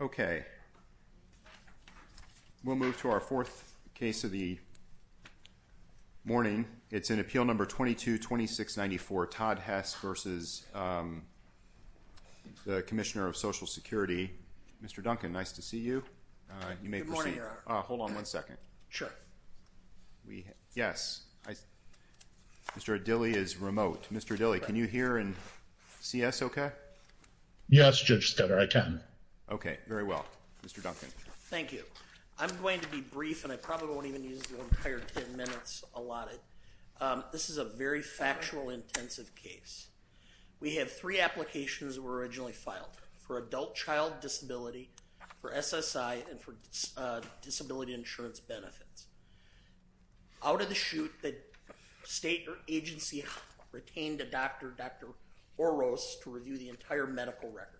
Okay. We'll move to our fourth case of the morning. It's in Appeal No. 22-2694, Todd Duncan. Nice to see you. You may proceed. Hold on one second. Sure. Yes. Mr. Dilley is remote. Mr. Dilley, can you hear and see us okay? Yes, Judge Stoddard, I can. Okay. Very well. Mr. Duncan. Thank you. I'm going to be brief and I probably won't even use the entire ten minutes allotted. This is a very factual, intensive case. We have three for SSI and for disability insurance benefits. Out of the chute, the state agency retained a doctor, Dr. Oros, to review the entire medical record.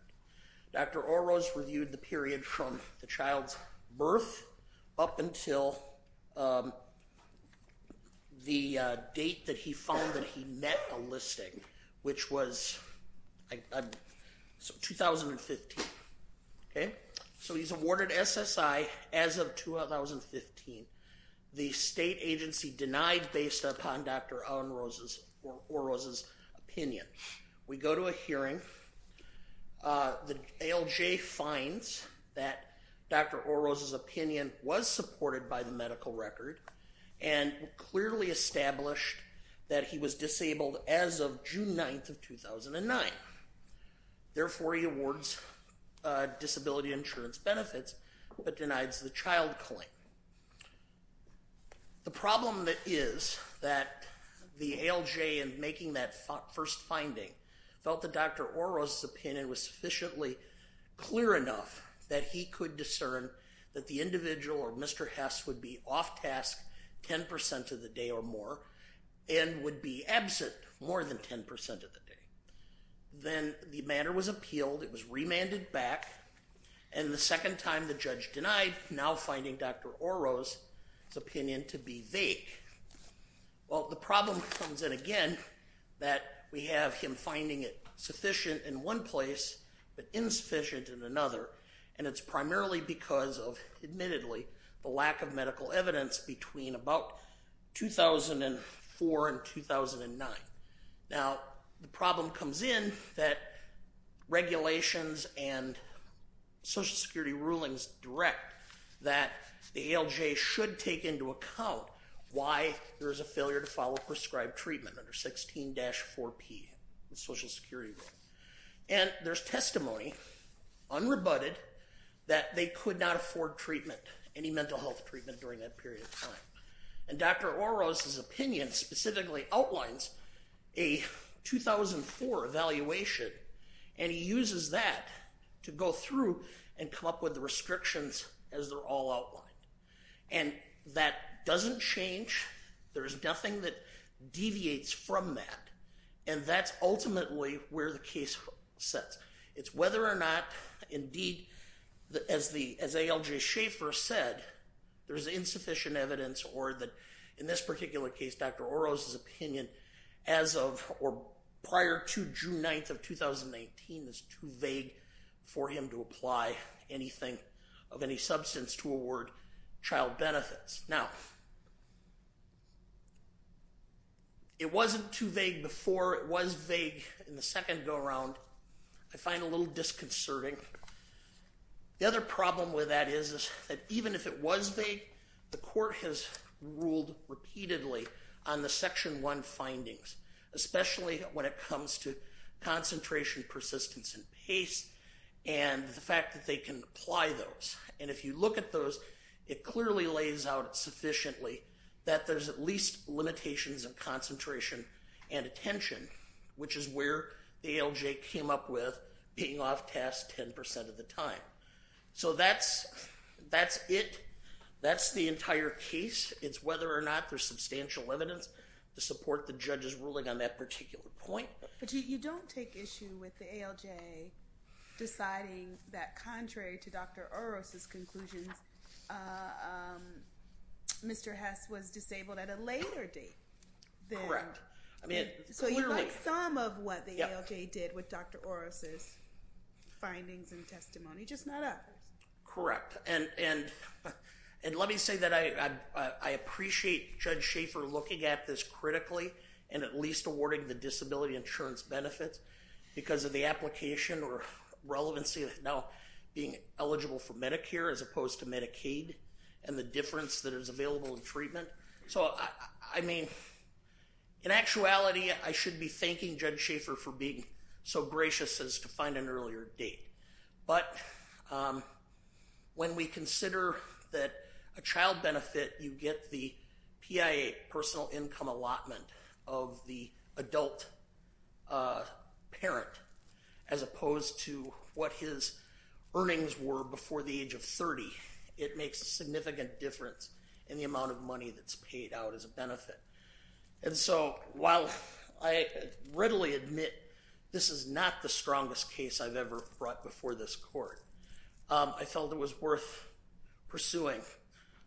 Dr. Oros reviewed the period from the child's birth up until the date that he found that he met a listing, which was 2015. So he's awarded SSI as of 2015. The state agency denied based upon Dr. Oros' opinion. We go to a hearing. The ALJ finds that Dr. Oros' opinion was supported by the medical record and clearly established that he was disabled as of June 9th of 2009. Therefore, he awards disability insurance benefits but denies the child claim. The problem that is that the ALJ, in making that first finding, felt that Dr. Oros' opinion was sufficiently clear enough that he could discern that the individual or Mr. Hess would be off task ten percent of the day or more and would be absent more than ten percent of the day. Then the matter was appealed. It was remanded back and the second time the judge denied, now finding Dr. Oros' opinion to be vague. Well, the problem comes in again that we have him finding it sufficient in one place but insufficient in another and it's primarily because of, admittedly, the lack of medical evidence between about 2004 and 2009. Now, the problem comes in that regulations and social security rulings direct that the ALJ should take into account why there is a failure to follow prescribed treatment under 16-4P, the social security rule. And there's testimony, unrebutted, that they could not afford treatment, any mental health treatment during that period of time. And Dr. Oros' opinion specifically outlines a 2004 evaluation and he uses that to go through and come up with the restrictions as they're all outlined. And that doesn't change. There's nothing that deviates from that. And that's ultimately where the case sets. It's whether or not, indeed, as ALJ Schaefer said, there's insufficient evidence or that, in this particular case, Dr. Oros' opinion as of or prior to June 9th of 2018 is too vague for him to apply anything of any substance to award child benefits. Now, it wasn't too vague before. It was vague in the second go-around. I find it a little The court has ruled repeatedly on the Section 1 findings, especially when it comes to concentration, persistence, and pace and the fact that they can apply those. And if you look at those, it clearly lays out sufficiently that there's at least limitations of concentration and attention, which is where ALJ came up with being off task 10% of the time. So that's it. That's the entire case. It's whether or not there's substantial evidence to support the judge's ruling on that particular point. But you don't take issue with the ALJ deciding that contrary to Dr. Oros' conclusions, Mr. Hess was disabled at a later date. Correct. So you like some of what the ALJ did with Dr. Oros' findings and testimony, just not others. Correct. And let me say that I appreciate Judge Schaefer looking at this critically and at least awarding the disability insurance benefits because of the application or relevancy of now being eligible for Medicare as opposed to Medicaid and the difference that is available in treatment. So, I mean, in actuality, I should be thanking Judge Schaefer for being so gracious as to find an earlier date. But when we consider that a child benefit, you get the PIA, personal income allotment, of the adult parent as opposed to what his earnings were before the age of 30. It makes a significant difference in the amount of money that's paid out as a strongest case I've ever brought before this court. I felt it was worth pursuing.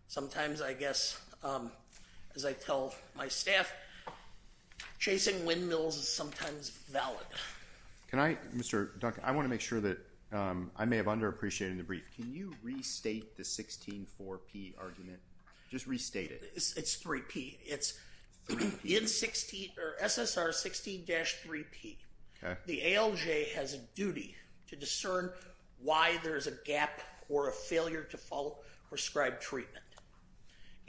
Sometimes I guess, as I tell my staff, chasing windmills is sometimes valid. Can I, Mr. Duncan, I want to make sure that I may have underappreciated the brief. Can you restate the 16-4P argument? Just restate it. It's 3P. It's SSR 16-3P. The ALJ has a duty to discern why there's a gap or a failure to follow prescribed treatment.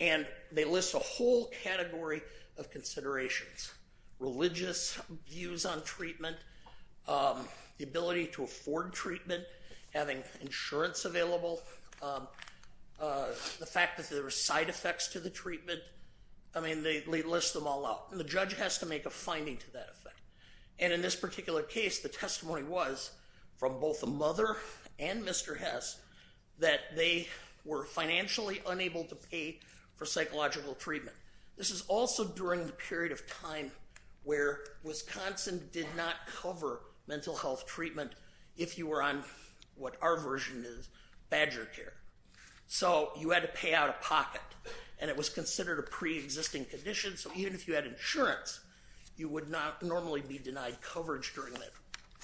And they list a whole category of considerations, religious views on treatment, the ability to afford treatment, having insurance available, the fact that there are side effects to the treatment. I mean, they list them all out. And the judge has to make a finding to that effect. And in this particular case, the testimony was from both the mother and Mr. Hess that they were financially unable to pay for psychological treatment. This is also during the period of time where Wisconsin did not cover mental health treatment if you were on what our version is, badger care. So you had to pay out of pocket. And it was considered a pre-existing condition. So even if you had insurance, you would not normally be denied coverage during that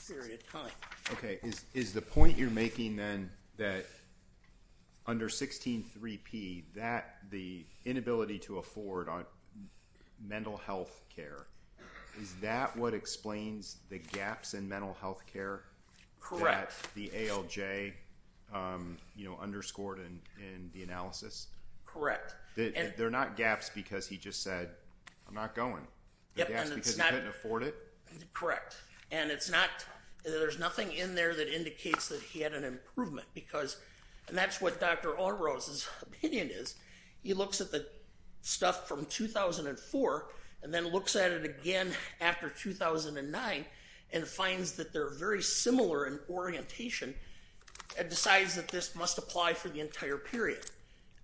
period of time. Okay. Is the point you're making then that under 16-3P, that the inability to afford mental health care, is that what explains the gaps in mental health care that the ALJ underscored in the analysis? Correct. They're not gaps because he just said, I'm not going. They're gaps because he couldn't afford it? Correct. And there's nothing in there that indicates that he had an improvement. And that's what Dr. Oros' opinion is. He looks at the stuff from 2004 and then looks at it again after 2009 and finds that they're very similar in orientation and decides that this must apply for the entire period.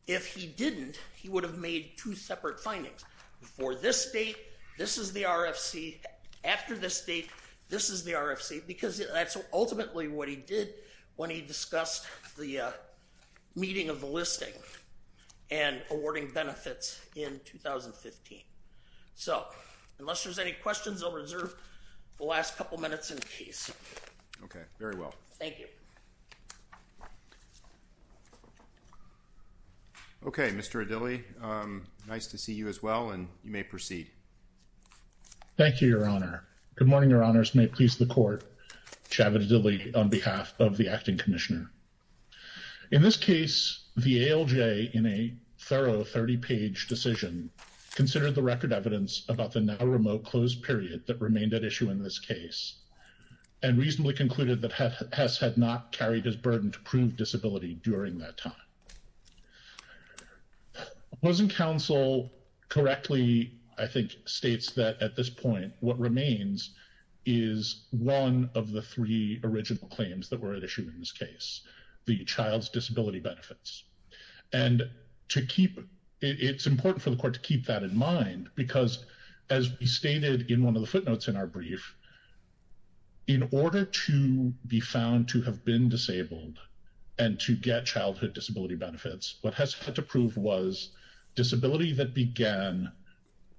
If he didn't, he would have made two separate findings. Before this date, this is the RFC. After this date, this is the RFC. Because that's ultimately what he did when he discussed the meeting of the listing and awarding benefits in 2015. So unless there's any questions, I'll reserve the last couple minutes in case. Okay. Very well. Thank you. Okay. Mr. Adili, nice to see you as well, and you may proceed. Thank you, Your Honor. Good morning, Your Honors. May it please the court, Chavit Adili on behalf of the Acting Commissioner. In this case, the ALJ, in a thorough 30-page decision, considered the record evidence about the now-remote closed period that remained at issue in this case, and reasonably concluded that Hess had not carried his burden to prove disability during that time. Opposing counsel correctly, I think, states that at this point, what remains is one of the three original claims that were at issue in this case, the child's disability benefits. And it's important for the court to keep that in mind, because as we stated in one of the footnotes in our brief, in order to be found to have been disabled and to get childhood disability benefits, what Hess had to prove was disability that began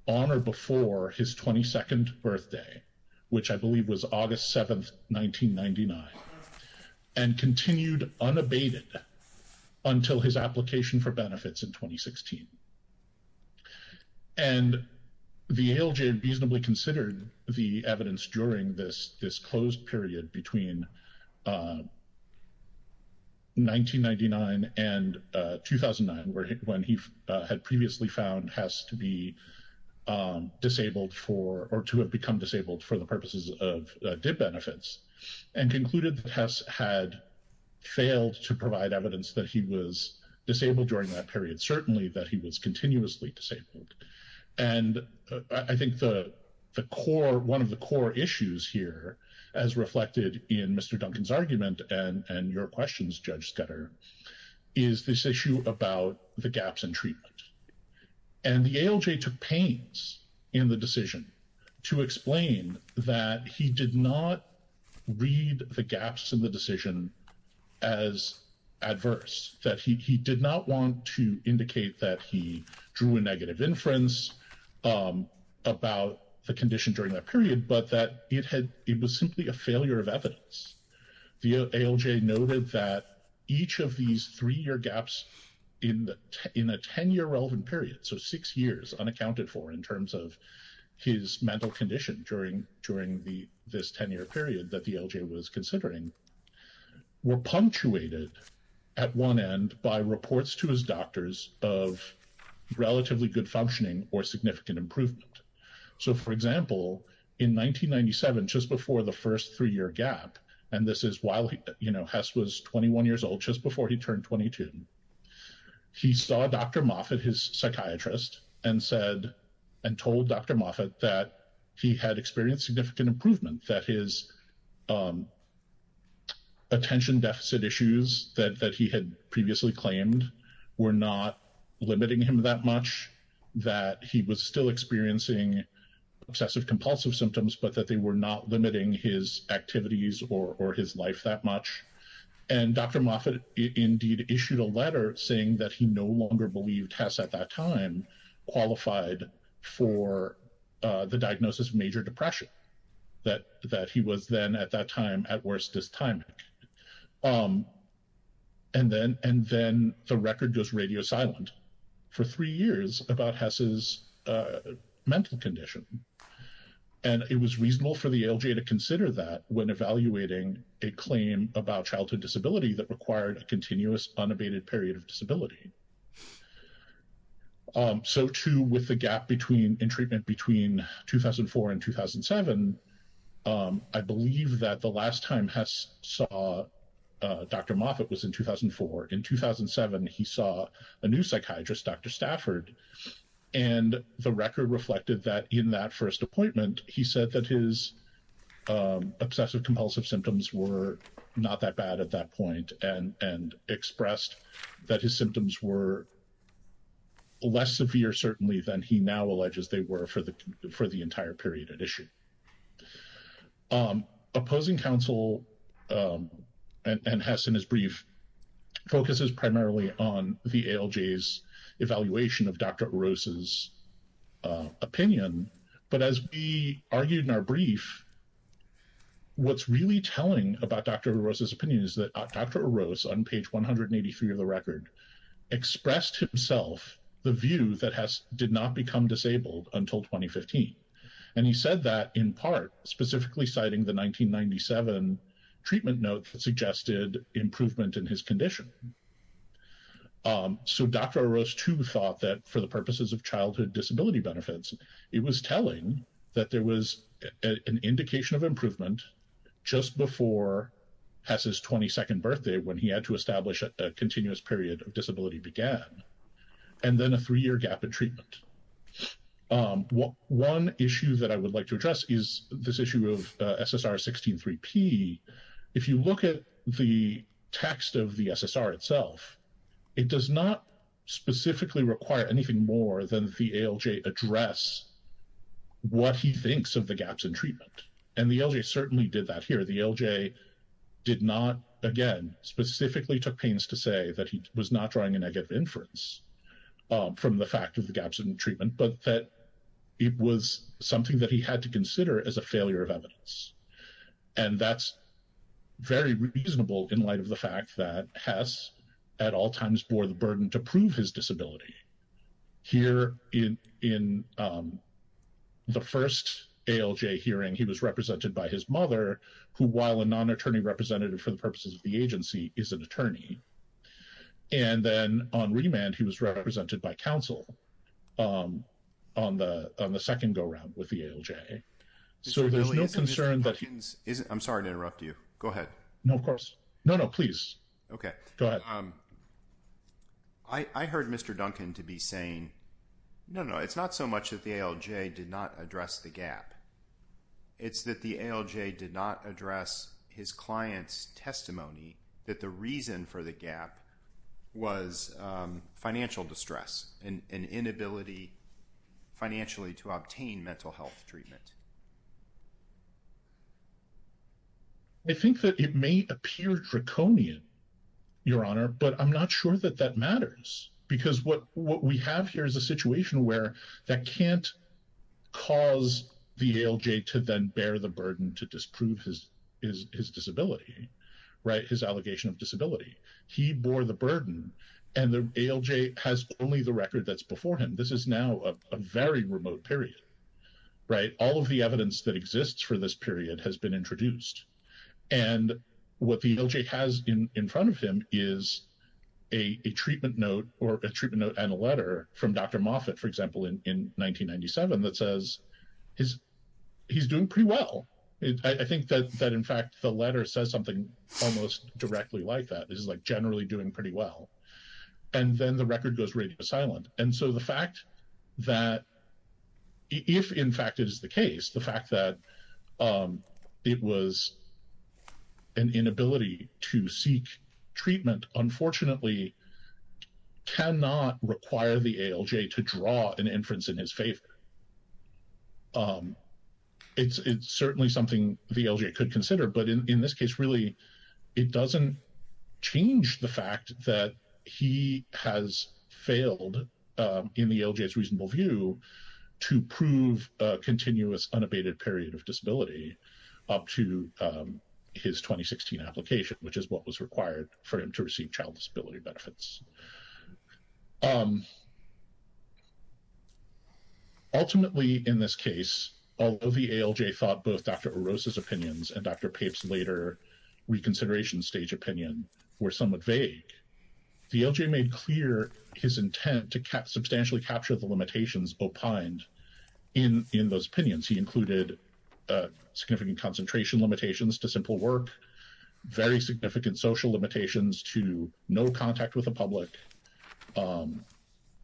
on or before his 22nd birthday, which I believe was August 7, 1999, and continued unabated until his application for benefits in 2016. And the ALJ reasonably considered the evidence during this closed period between 1999 and 2009, when he had previously found Hess to be disabled for or to have become disabled for the purposes of DIP benefits, and concluded that Hess had failed to provide evidence that he was disabled during that period, certainly that he was continuously disabled. And I think one of the core issues here, as reflected in Mr. Duncan's argument and your questions, Judge Sketter, is this issue about the gaps in treatment. And the ALJ took pains in the decision to explain that he did not read the gaps in the decision as adverse, that he did not want to indicate that he drew a negative inference about the condition during that period, but that it was simply a failure of evidence. The ALJ noted that each of these three-year gaps in a 10-year relevant period, so six years unaccounted for in terms of his mental condition during this 10-year period that the ALJ was considering, were punctuated at one end by reports to his doctors of relatively good functioning or significant improvement. So, for example, in 1997, just before the first three-year gap, and this is while Hess was 21 years old, just before he turned 22, he saw Dr. Moffitt, his psychiatrist, and told Dr. Moffitt that he had experienced significant improvement, that his attention deficit issues that he had previously claimed were not limiting him that much, that he was still experiencing obsessive-compulsive symptoms, but that they were not limiting his activities or his life that much. And Dr. Moffitt indeed issued a letter saying that he no longer believed Hess at that time qualified for the diagnosis of major depression, that he was then at that time at worst dysthymic. And then the record goes radio silent for three years about Hess's mental condition. And it was reasonable for the ALJ to consider that when evaluating a claim about childhood disability that required a continuous unabated period of disability. So, too, with the gap between, in treatment between 2004 and 2007, I believe that the last time Hess saw Dr. Moffitt was in 2004. In 2007, he saw a new psychiatrist, Dr. Stafford, and the record reflected that in that first appointment, he said that his obsessive-compulsive symptoms were not that bad at that point and expressed that his symptoms were less severe certainly than he now alleges they were for the entire period at issue. Opposing counsel and Hess in his brief focuses primarily on the ALJ's evaluation of Dr. Oroz's opinion, but as we argued in our brief, what's really telling about Dr. Oroz's opinion is that Dr. Oroz on page 183 of the record expressed himself the view that Hess did not become disabled until 2015. And he said that in part specifically citing the 1997 treatment notes that suggested improvement in his condition. So, Dr. Oroz, too, thought that for the purposes of childhood disability benefits, it was telling that there was an indication of improvement just before Hess's 22nd birthday when he had to establish a continuous period of disability began and then a three-year gap in treatment. One issue that I would like to address is this issue of SSR 16-3P. If you look at the what he thinks of the gaps in treatment, and the ALJ certainly did that here. The ALJ did not, again, specifically took pains to say that he was not drawing a negative inference from the fact of the gaps in treatment, but that it was something that he had to consider as a failure of evidence. And that's very reasonable in light of the fact that Hess at all times bore the burden to prove his disability. Here in the first ALJ hearing, he was represented by his mother, who, while a non-attorney representative for the purposes of the agency, is an attorney. And then on remand, he was represented by counsel on the second go-round with the ALJ. So, there's no concern that... I'm sorry to interrupt you. Go ahead. No, of course. No, no, please. Okay. Go ahead. I heard Mr. Duncan to be saying, no, no, it's not so much that the ALJ did not address the gap. It's that the ALJ did not address his client's testimony that the reason for the gap was financial distress and inability financially to obtain mental health treatment. I think that it may appear draconian, Your Honor, but I'm not sure that that matters. Because what we have here is a situation where that can't cause the ALJ to then bear the burden to disprove his disability, right, his allegation of disability. He bore the burden, and the ALJ has only the record that's before him. This is now a very remote period, right? All of these evidence that exists for this period has been introduced. And what the ALJ has in front of him is a treatment note or a treatment note and a letter from Dr. Moffitt, for example, in 1997 that says he's doing pretty well. I think that, in fact, the letter says something almost directly like that. This is like generally doing pretty well. And then the record goes radio silent. And so the fact that, if in fact it is the case, the fact that it was an inability to seek treatment, unfortunately, cannot require the ALJ to draw an inference in his favor. It's certainly something the ALJ could consider, but in this case, really, it doesn't change the fact that he has failed, in the ALJ's reasonable view, to prove a continuous unabated period of disability up to his 2016 application, which is what was required for him to receive child disability benefits. Ultimately, in this case, although the ALJ thought both Dr. Orozco's opinions and Dr. Pape's later reconsideration stage opinion were somewhat vague, the ALJ made clear his intent to substantially capture the limitations opined in those opinions. He included significant concentration limitations to simple work, very significant social limitations to no contact with the public,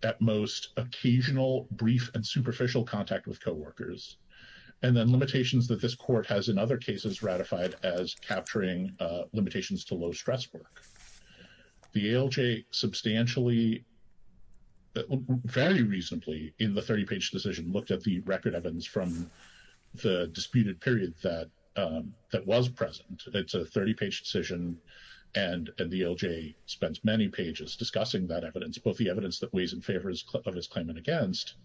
at most, occasional brief and superficial contact with co-workers, and then limitations that this court has, in other cases, ratified as capturing limitations to low-stress work. The ALJ substantially, very reasonably, in the 30-page decision, looked at the record evidence from the disputed period that was present. It's a 30-page decision, and the ALJ spends many pages discussing that evidence, both the evidence that weighs in favor of his claimant against,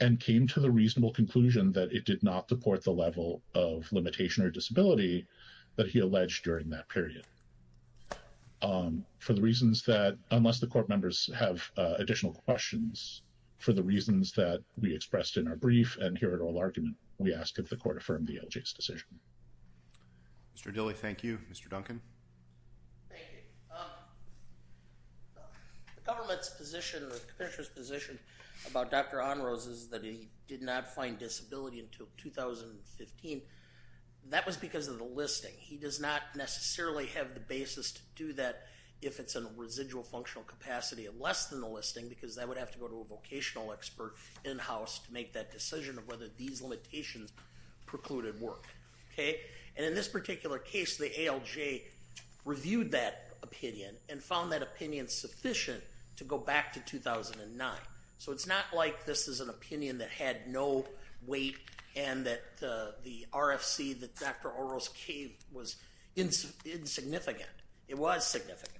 and came to the reasonable conclusion that it did not support the level of limitation or disability that he alleged during that period. For the reasons that, unless the court members have additional questions, for the reasons that we expressed in our brief and here at oral argument, we ask that the court affirm the ALJ's decision. Mr. Dilley, thank you. Mr. Duncan? Thank you. The government's position, the government's position about Dr. Onrose is that he did not find disability until 2015. That was because of the listing. He does not necessarily have the basis to do that if it's in a residual functional capacity of less than the listing, because that would have to go to a vocational expert in-house to make that decision of whether these limitations precluded work. And in this particular case, the ALJ reviewed that opinion and found that opinion sufficient to go back to 2009. So it's not like this is an opinion that had no weight and that the RFC that Dr. Onrose gave was insignificant. It was significant.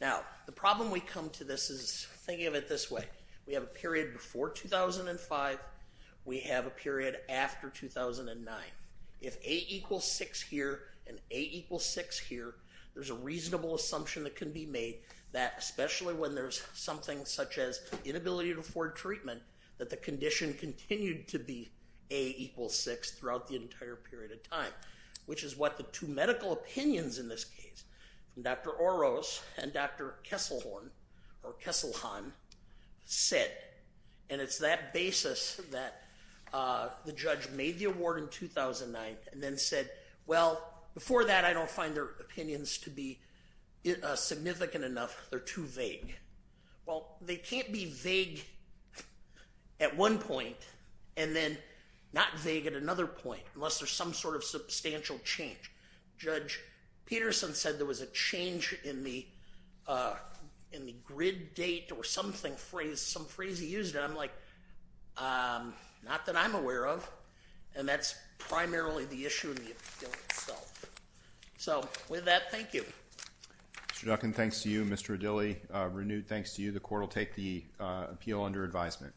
Now, the problem we come to this is thinking of it this way. We have a period before 2005. We have a period after 2009. If A equals 6 here and A equals 6 here, there's a reasonable assumption that can be made that, especially when there's something such as inability to afford treatment, that the condition continued to be A equals 6 throughout the entire period of time, which is what the two medical opinions in this case, Dr. Onrose and Dr. Kesselhorn or Kesselhon, said. And it's that basis that the judge made the award in 2009 and then said, well, before that, I don't find their opinions to be significant enough. They're too vague. Well, they can't be vague at one point and then not vague at another point unless there's some sort of substantial change. Judge Peterson said there was a change in the grid date or something, some phrase he used. And I'm like, not that I'm aware of. And that's renewed. Thanks to you. The court will take the appeal under advisement.